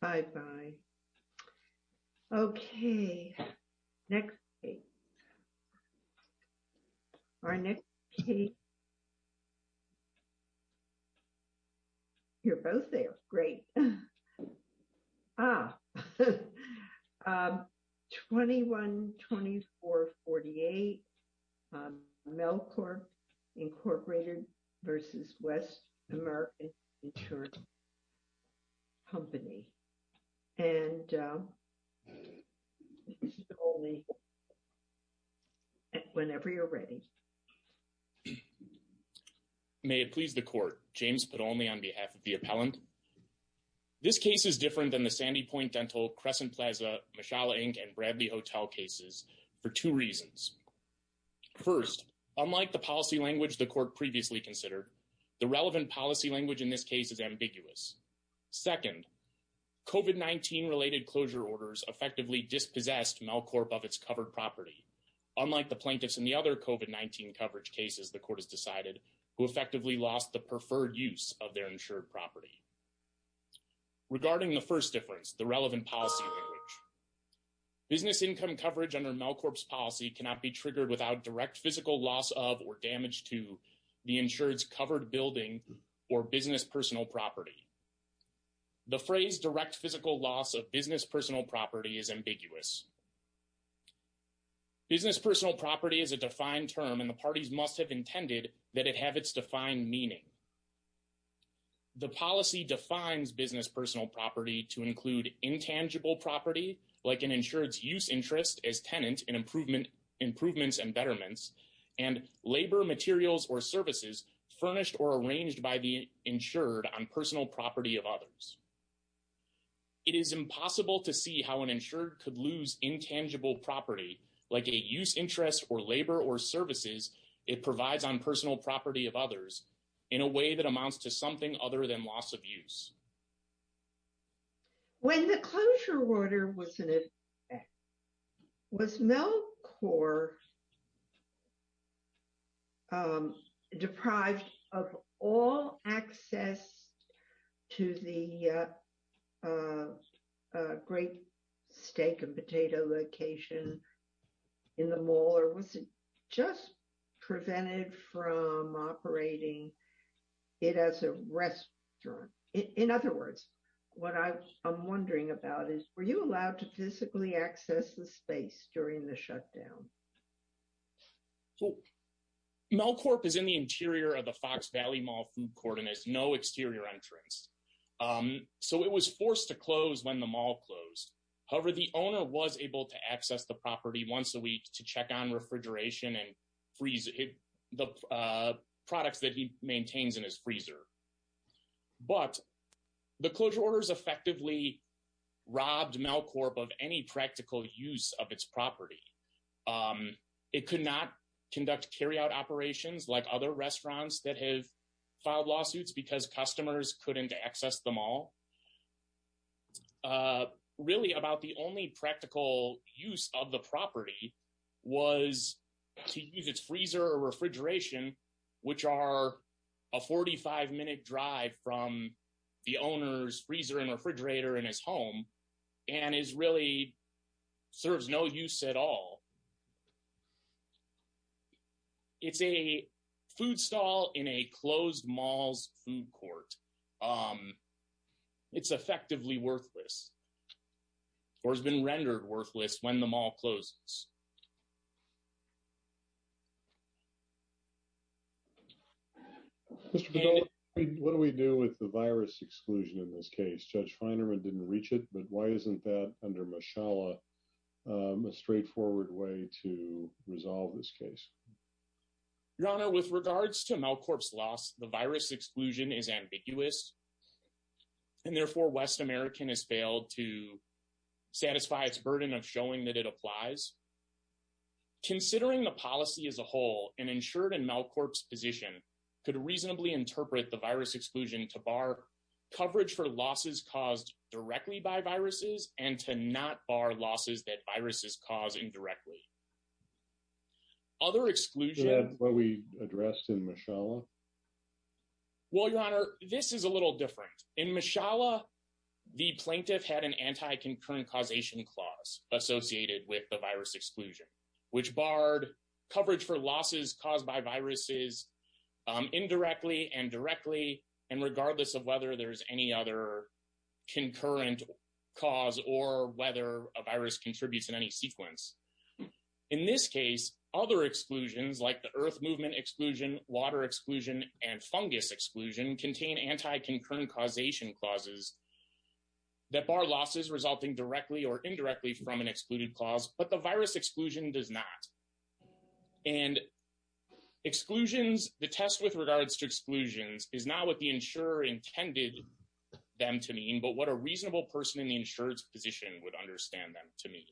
Bye bye. Bye bye. Okay. Next. Our next. You're both there. Great. Ah, 212448 Melcore Incorporated versus West American Company. And whenever you're ready. May it please the court James, but only on behalf of the appellant. This case is different than the Sandy point dental Crescent Plaza and Bradley hotel cases for 2 reasons. 1st, unlike the policy language, the court previously considered. The relevant policy language in this case is ambiguous. 2nd, related closure orders, effectively dispossessed Melcorp of its covered property. Unlike the plaintiffs in the other coven, 19 coverage cases, the court has decided who effectively lost the preferred use of their insured property. Regarding the 1st difference, the relevant policy. Business income coverage under Melcorp's policy cannot be triggered without direct physical loss of or damage to the insurance covered building or business personal property. The phrase direct physical loss of business personal property is ambiguous. Business personal property is a defined term, and the parties must have intended that it have its defined meaning. The policy defines business personal property to include intangible property, like an insurance use interest as tenant and improvement improvements and betterments and labor materials or services furnished or arranged by the insured on personal property of others. It is impossible to see how an insured could lose intangible property, like a use interest or labor or services. It provides on personal property of others in a way that amounts to something other than loss of use. When the closure order was in effect, was Melcorp deprived of all access to the great steak and potato location in the mall or was it just prevented from operating it as a restaurant? In other words, what I'm wondering about is, were you allowed to physically access the space during the shutdown? Melcorp is in the interior of the Fox Valley Mall food court and has no exterior entrance. So it was forced to close when the mall closed. However, the owner was able to access the property once a week to check on refrigeration and freeze the products that he maintains in his freezer. But the closure orders effectively robbed Melcorp of any practical use of its property. It could not conduct carry out operations like other restaurants that have filed lawsuits because customers couldn't access the mall. Really about the only practical use of the property was to use its freezer or refrigeration, which are a 45 minute drive from the owner's freezer and refrigerator in his home and is really serves no use at all. It's a food stall in a closed mall's food court. It's effectively worthless or has been rendered worthless when the mall closes. What do we do with the virus exclusion in this case? Judge Feinerman didn't reach it. But why isn't that under Mashallah a straightforward way to resolve this case? Your Honor, with regards to Melcorp's loss, the virus exclusion is ambiguous. And therefore, West American has failed to satisfy its burden of showing that it applies. Considering the policy as a whole and insured in Melcorp's position could reasonably interpret the virus exclusion to bar coverage for losses caused directly by viruses and to not bar losses that viruses cause indirectly. Other exclusion. What we addressed in Mashallah. Well, Your Honor, this is a little different in Mashallah. The plaintiff had an anti-concurrent causation clause associated with the virus exclusion, which barred coverage for losses caused by viruses indirectly and directly. And regardless of whether there's any other concurrent cause or whether a virus contributes in any sequence. In this case, other exclusions like the earth movement exclusion, water exclusion, and fungus exclusion contain anti-concurrent causation clauses that bar losses resulting directly or indirectly from an excluded clause. But the virus exclusion does not. And exclusions, the test with regards to exclusions is not what the insurer intended them to mean, but what a reasonable person in the insurance position would understand them to me.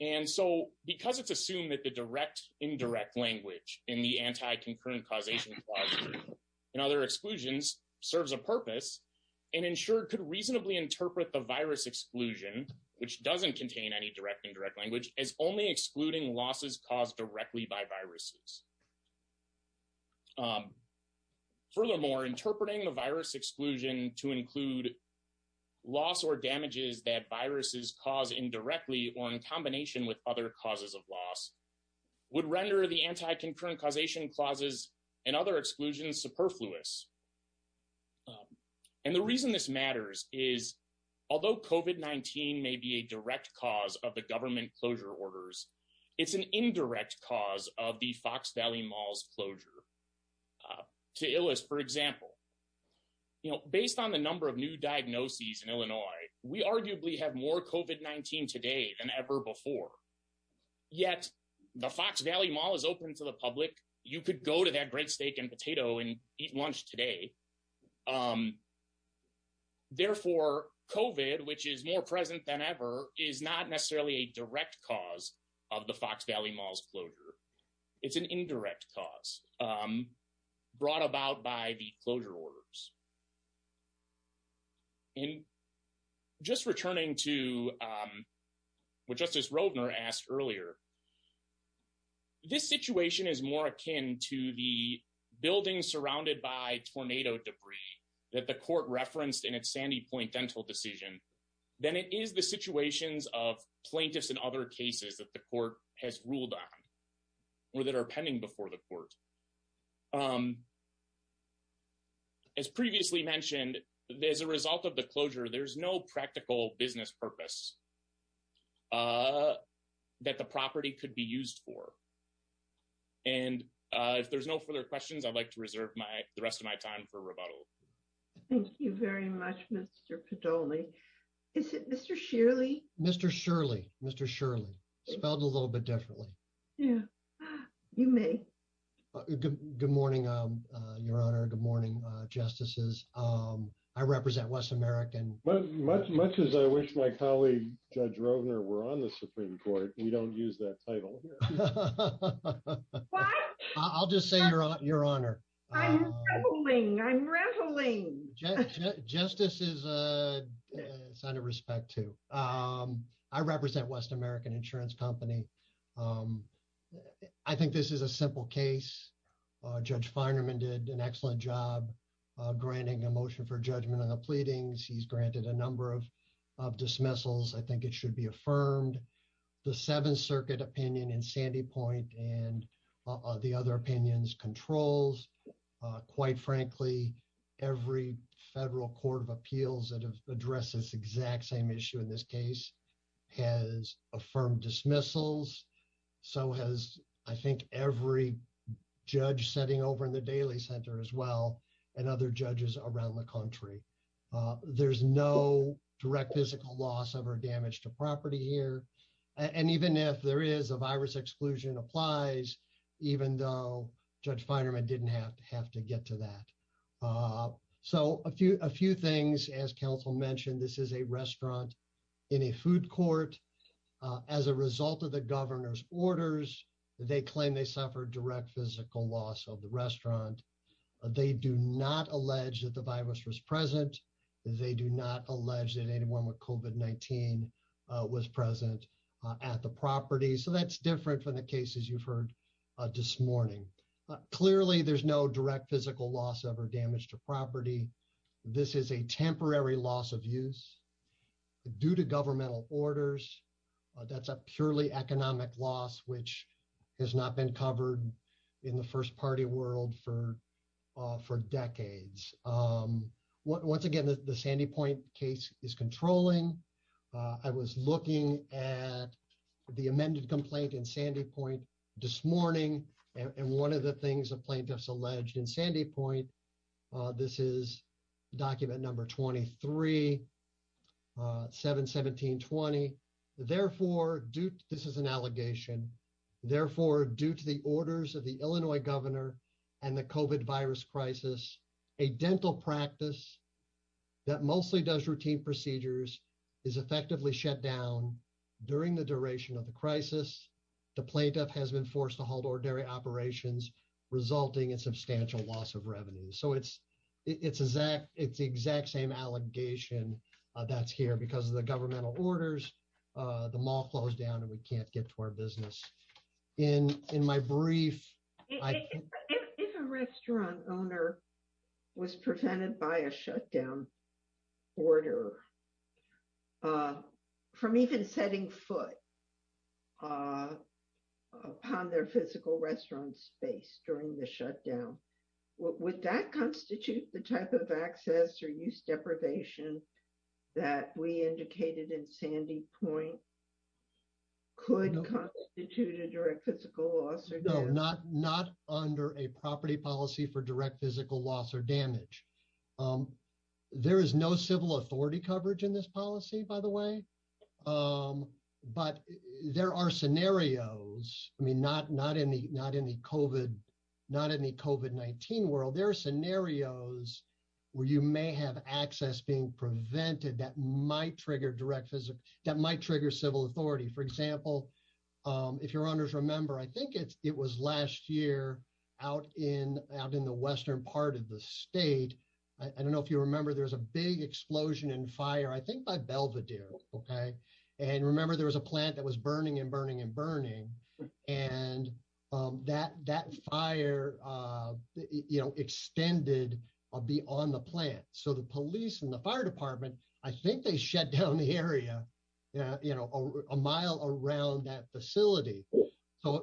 And so because it's assumed that the direct indirect language in the anti-concurrent causation and other exclusions serves a purpose and insured could reasonably interpret the virus exclusion, which doesn't contain any direct indirect language is only excluding losses caused directly by viruses. Furthermore, interpreting the virus exclusion to include loss or damages that viruses cause indirectly or in combination with other causes of loss would render the anti-concurrent causation clauses and other exclusions superfluous. And the reason this matters is, although COVID-19 may be a direct cause of the government closure orders, it's an indirect cause of the Fox Valley Mall's closure. To illest, for example, you know, based on the number of new diagnoses in Illinois, we arguably have more COVID-19 today than ever before. Yet the Fox Valley Mall is open to the public. You could go to that bread, steak and potato and eat lunch today. Therefore, COVID, which is more present than ever, is not necessarily a direct cause of the Fox Valley Mall's closure. It's an indirect cause brought about by the closure orders. In just returning to what Justice Roedner asked earlier, this situation is more akin to the buildings surrounded by tornado debris that the court referenced in its Sandy Point dental decision than it is the situations of plaintiffs and other cases that the court has ruled on or that are pending before the court. As previously mentioned, as a result of the closure, there's no practical business purpose that the property could be used for. And if there's no further questions, I'd like to reserve the rest of my time for rebuttal. Thank you very much, Mr. Padoli. Is it Mr. Shirley? Mr. Shirley. Mr. Shirley. Spelled a little bit differently. Yeah, you may. Good morning, Your Honor. Good morning, Justices. I represent West American. Much as I wish my colleague, Judge Roedner, were on the Supreme Court, we don't use that title. I'll just say Your Honor. I'm rattling. I'm rattling. Justice is a sign of respect, too. I represent West American Insurance Company. I think this is a simple case. Judge Feinerman did an excellent job granting a motion for judgment on the pleadings. He's granted a number of dismissals. I think it should be affirmed. The Seventh Circuit opinion in Sandy Point and the other opinions controls. Quite frankly, every federal court of appeals that have addressed this exact same issue in this case has affirmed dismissals. So has, I think, every judge sitting over in the Daly Center as well and other judges around the country. There's no direct physical loss of or damage to property here. And even if there is a virus exclusion applies, even though Judge Feinerman didn't have to have to get to that. So a few a few things, as counsel mentioned, this is a restaurant in a food court. As a result of the governor's orders, they claim they suffered direct physical loss of the restaurant. They do not allege that the virus was present. They do not allege that anyone with COVID-19 was present at the property. So that's different from the cases you've heard this morning. Clearly, there's no direct physical loss of or damage to property. This is a temporary loss of use due to governmental orders. That's a purely economic loss, which has not been covered in the first party world for for decades. Once again, the Sandy Point case is controlling. I was looking at the amended complaint in Sandy Point this morning. And one of the things the plaintiffs alleged in Sandy Point. This is document number 23, 7, 17, 20. Therefore, this is an allegation. Therefore, due to the orders of the Illinois governor and the COVID virus crisis, a dental practice that mostly does routine procedures is effectively shut down during the duration of the crisis. The plaintiff has been forced to hold ordinary operations, resulting in substantial loss of revenue. So it's it's exact it's the exact same allegation that's here because of the governmental orders. The mall closed down and we can't get to our business. In my brief. If a restaurant owner was prevented by a shutdown order from even setting foot upon their physical restaurant space during the shutdown. Would that constitute the type of access or use deprivation that we indicated in Sandy Point? Could constitute a direct physical loss? No, not not under a property policy for direct physical loss or damage. There is no civil authority coverage in this policy, by the way. But there are scenarios, I mean, not not in the not in the COVID, not in the COVID-19 world. There are scenarios where you may have access being prevented that might trigger direct physical that might trigger civil authority. For example, if your honors remember, I think it's it was last year out in out in the western part of the state. I don't know if you remember, there was a big explosion and fire, I think, by Belvedere. OK. And remember, there was a plant that was burning and burning and burning. And that that fire extended beyond the plant. So the police and the fire department, I think they shut down the area a mile around that facility.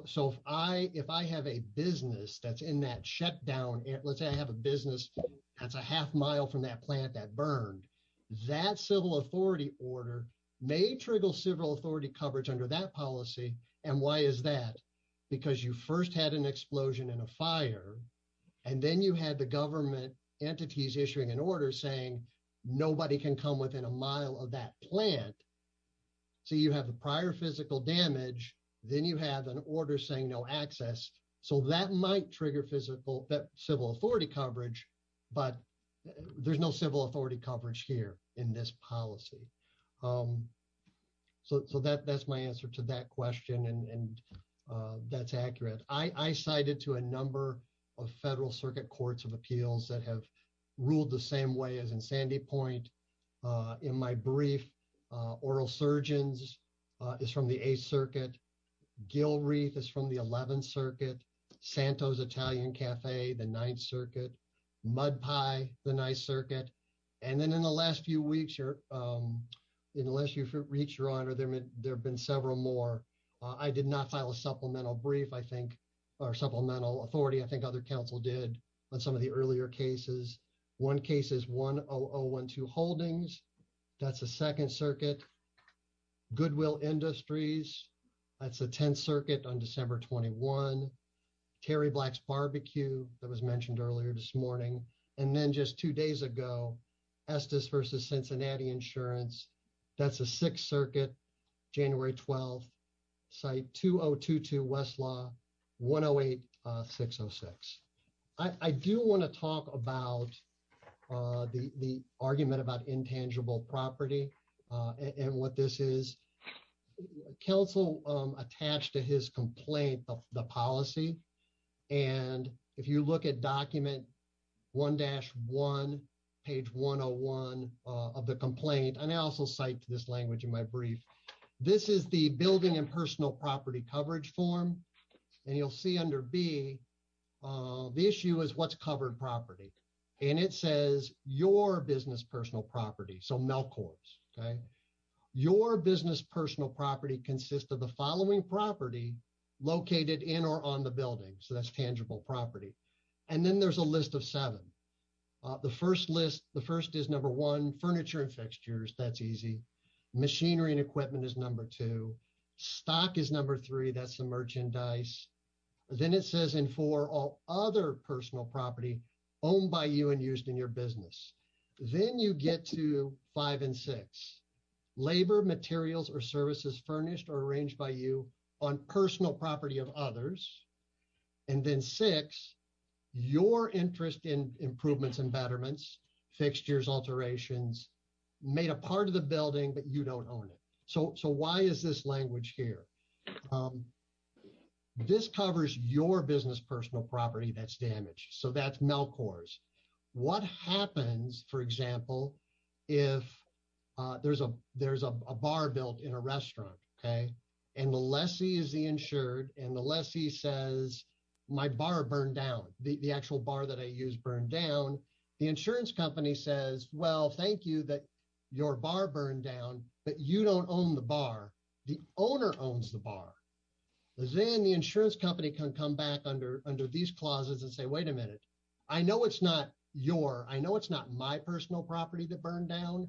So if I if I have a business that's in that shutdown, let's say I have a business that's a half mile from that plant that burned, that civil authority order may trigger civil authority coverage under that policy. And why is that? Because you first had an explosion and a fire. And then you had the government entities issuing an order saying nobody can come within a mile of that plant. So you have the prior physical damage, then you have an order saying no access. So that might trigger physical civil authority coverage, but there's no civil authority coverage here in this policy. So that that's my answer to that question. And that's accurate. I cited to a number of federal circuit courts of appeals that have ruled the same way as in Sandy Point in my brief. Oral Surgeons is from the 8th Circuit. Gilreath is from the 11th Circuit. Santos Italian Cafe, the 9th Circuit. Mud Pie, the 9th Circuit. And then in the last few weeks or in the last few weeks, Your Honor, there have been several more. I did not file a supplemental brief, I think, or supplemental authority. I think other counsel did on some of the earlier cases. One case is 10012 Holdings. That's the 2nd Circuit. Goodwill Industries. That's the 10th Circuit on December 21. Terry Black's Barbecue that was mentioned earlier this morning. And then just two days ago, Estes versus Cincinnati Insurance. That's the 6th Circuit, January 12. Site 2022 Westlaw 108606. I do want to talk about the argument about intangible property and what this is. Counsel attached to his complaint of the policy. And if you look at document 1-1, page 101 of the complaint, and I also cite to this language in my brief. This is the building and personal property coverage form. And you'll see under B, the issue is what's covered property. And it says your business personal property so Melchor's. Your business personal property consists of the following property located in or on the building. So that's tangible property. And then there's a list of seven. The first list, the first is number one, furniture and fixtures. That's easy. Machinery and equipment is number two. Stock is number three. That's the merchandise. Then it says in four, all other personal property owned by you and used in your business. Then you get to five and six. Labor, materials, or services furnished or arranged by you on personal property of others. And then six, your interest in improvements and betterments, fixtures, alterations, made a part of the building, but you don't own it. So why is this language here? This covers your business personal property that's damaged. So that's Melchor's. What happens, for example, if there's a bar built in a restaurant, okay, and the lessee is the insured, and the lessee says my bar burned down, the actual bar that I used burned down. The insurance company says, well, thank you that your bar burned down, but you don't own the bar. Then the insurance company can come back under these clauses and say, wait a minute. I know it's not your, I know it's not my personal property that burned down,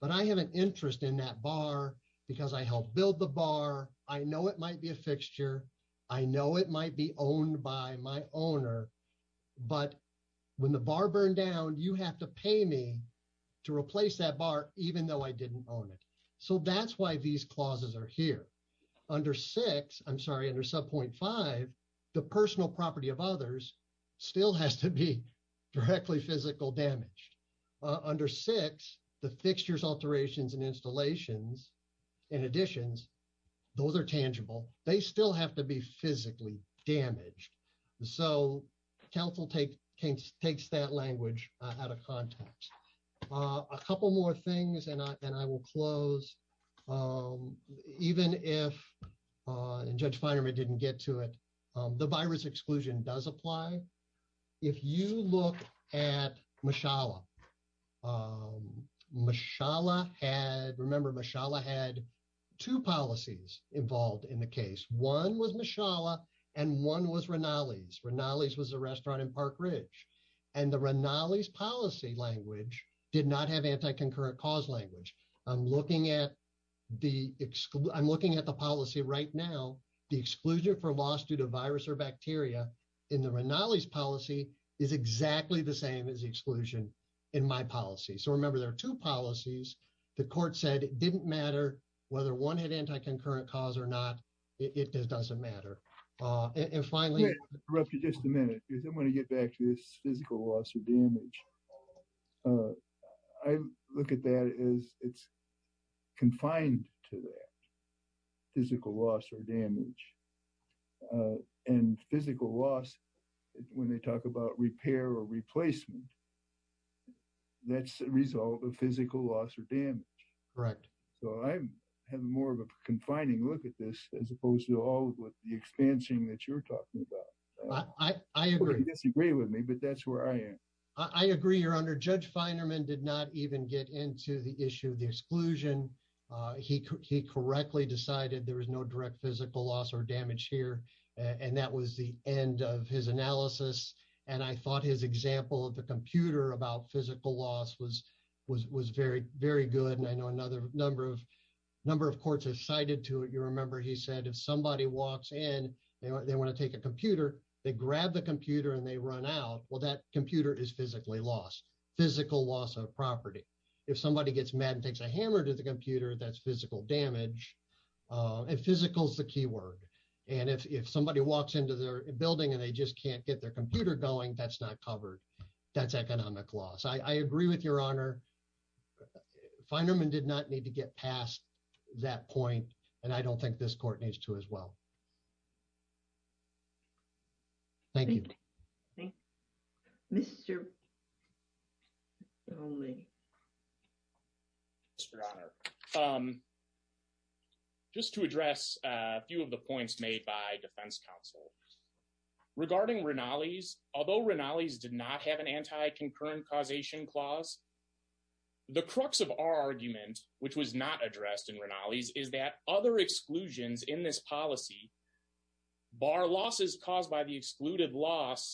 but I have an interest in that bar because I helped build the bar. I know it might be a fixture. I know it might be owned by my owner. But when the bar burned down, you have to pay me to replace that bar, even though I didn't own it. So that's why these clauses are here. Under 6, I'm sorry, under Subpoint 5, the personal property of others still has to be directly physical damaged. Under 6, the fixtures, alterations, and installations, and additions, those are tangible. They still have to be physically damaged. So council takes that language out of context. A couple more things, and I will close. Even if Judge Feinerman didn't get to it, the virus exclusion does apply. If you look at Mishala, Mishala had, remember Mishala had two policies involved in the case. One was Mishala, and one was Rinaldi's. Rinaldi's was a restaurant in Park Ridge. And the Rinaldi's policy language did not have anti-concurrent cause language. I'm looking at the policy right now. The exclusion for loss due to virus or bacteria in the Rinaldi's policy is exactly the same as the exclusion in my policy. So remember, there are two policies. The court said it didn't matter whether one had anti-concurrent cause or not. It doesn't matter. And finally — Let me interrupt you just a minute because I want to get back to this physical loss or damage. I look at that as it's confined to that, physical loss or damage. And physical loss, when they talk about repair or replacement, that's a result of physical loss or damage. Correct. So I have more of a confining look at this as opposed to all of the expansion that you're talking about. I agree. You disagree with me, but that's where I am. I agree, Your Honor. Judge Feinerman did not even get into the issue of the exclusion. He correctly decided there was no direct physical loss or damage here. And that was the end of his analysis. And I thought his example of the computer about physical loss was very, very good. And I know a number of courts have cited to it. You remember he said if somebody walks in, they want to take a computer, they grab the computer and they run out, well, that computer is physically lost. Physical loss of property. If somebody gets mad and takes a hammer to the computer, that's physical damage. And physical is the key word. And if somebody walks into their building and they just can't get their computer going, that's not covered. That's economic loss. I agree with Your Honor. Feinerman did not need to get past that point. And I don't think this court needs to as well. Thank you. Mr. Oling. Your Honor. Just to address a few of the points made by defense counsel. Regarding Rinaldi's, although Rinaldi's did not have an anti-concurrent causation clause. The crux of our argument, which was not addressed in Rinaldi's, is that other exclusions in this policy bar losses caused by the excluded loss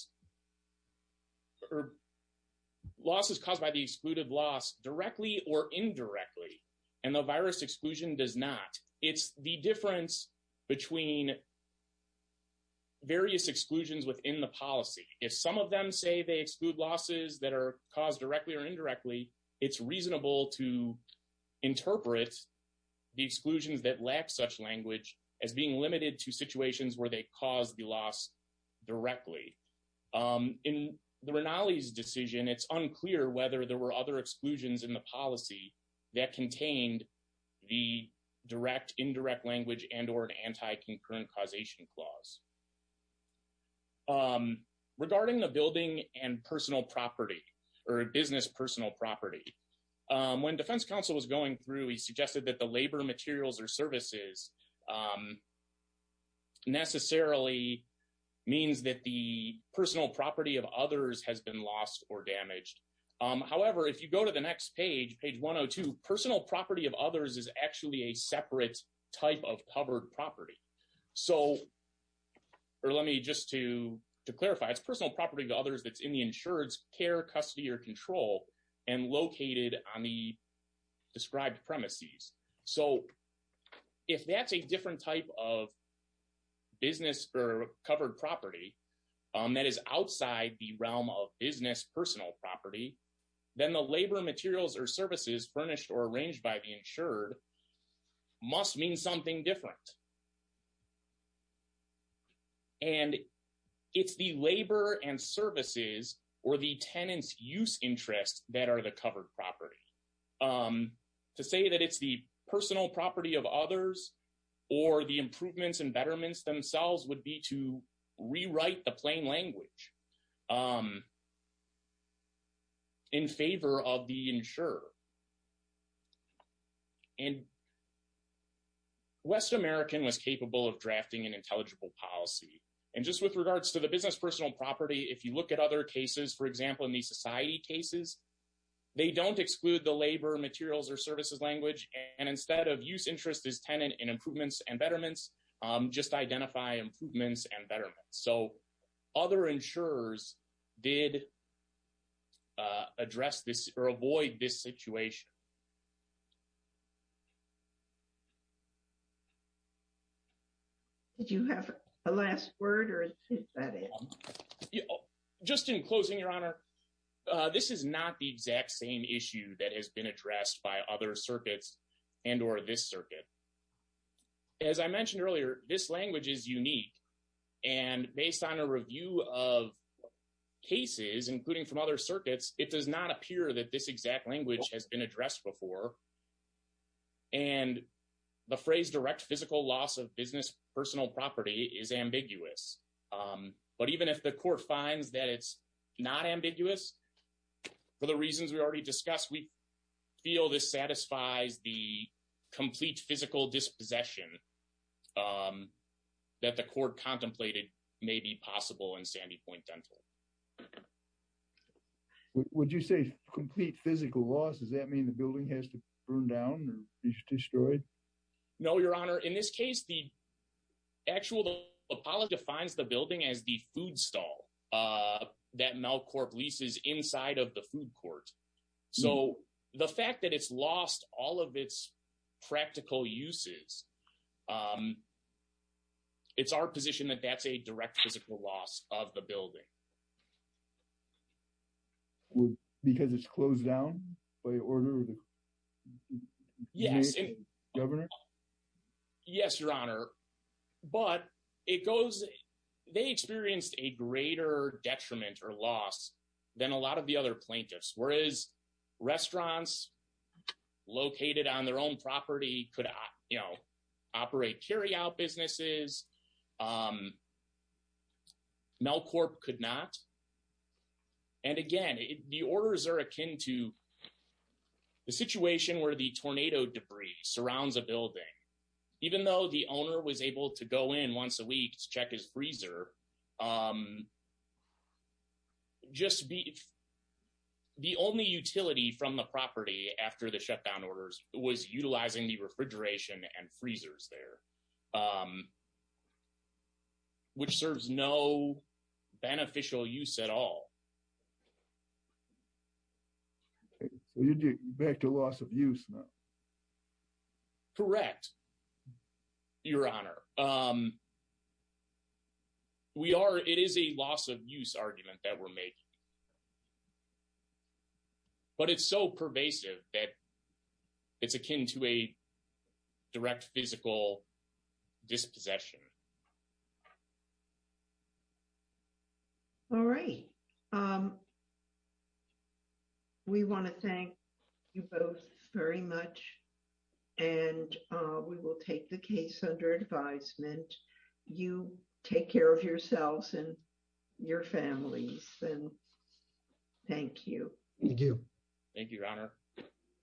directly or indirectly. And the virus exclusion does not. It's the difference between various exclusions within the policy. If some of them say they exclude losses that are caused directly or indirectly, it's reasonable to interpret the exclusions that lack such language as being limited to situations where they cause the loss directly. In the Rinaldi's decision, it's unclear whether there were other exclusions in the policy that contained the direct, indirect language and or an anti-concurrent causation clause. Regarding the building and personal property or business personal property. When defense counsel was going through, he suggested that the labor materials or services necessarily means that the personal property of others has been lost or damaged. However, if you go to the next page, page 102, personal property of others is actually a separate type of covered property. So, or let me just to clarify, it's personal property to others that's in the insured's care, custody or control and located on the described premises. So, if that's a different type of business or covered property that is outside the realm of business personal property, then the labor materials or services furnished or arranged by the insured must mean something different. And it's the labor and services or the tenants use interest that are the covered property. To say that it's the personal property of others or the improvements and betterments themselves would be to rewrite the plain language in favor of the insurer. And West American was capable of drafting an intelligible policy. And just with regards to the business personal property, if you look at other cases, for example, in the society cases, they don't exclude the labor materials or services language. And instead of use interest is tenant in improvements and betterments, just identify improvements and betterments. So, other insurers did address this or avoid this situation. Did you have a last word or is that it? Just in closing, Your Honor, this is not the exact same issue that has been addressed by other circuits and or this circuit. As I mentioned earlier, this language is unique. And based on a review of cases, including from other circuits, it does not appear that this exact language has been addressed before. And the phrase direct physical loss of business personal property is ambiguous. But even if the court finds that it's not ambiguous for the reasons we already discussed, we feel this satisfies the complete physical dispossession that the court contemplated may be possible in Sandy Point Dental. Would you say complete physical loss? Does that mean the building has to burn down or be destroyed? No, Your Honor. In this case, the actual Apollo defines the building as the food stall that Melcourt leases inside of the food court. So the fact that it's lost all of its practical uses. It's our position that that's a direct physical loss of the building. Because it's closed down by order. Yes. Governor. Yes, Your Honor. But it goes. They experienced a greater detriment or loss than a lot of the other plaintiffs, whereas restaurants located on their own property could operate carry out businesses. Melcourt could not. And again, the orders are akin to the situation where the tornado debris surrounds a building, even though the owner was able to go in once a week to check his freezer. Just be. The only utility from the property after the shutdown orders was utilizing the refrigeration and freezers there. Which serves no beneficial use at all. Back to loss of use. Correct. Your Honor. Your Honor. We are it is a loss of use argument that we're making. But it's so pervasive that it's akin to a direct physical dispossession. All right. Thank you. We want to thank you both very much. And we will take the case under advisement. You take care of yourselves and your families. Thank you. Thank you. Thank you.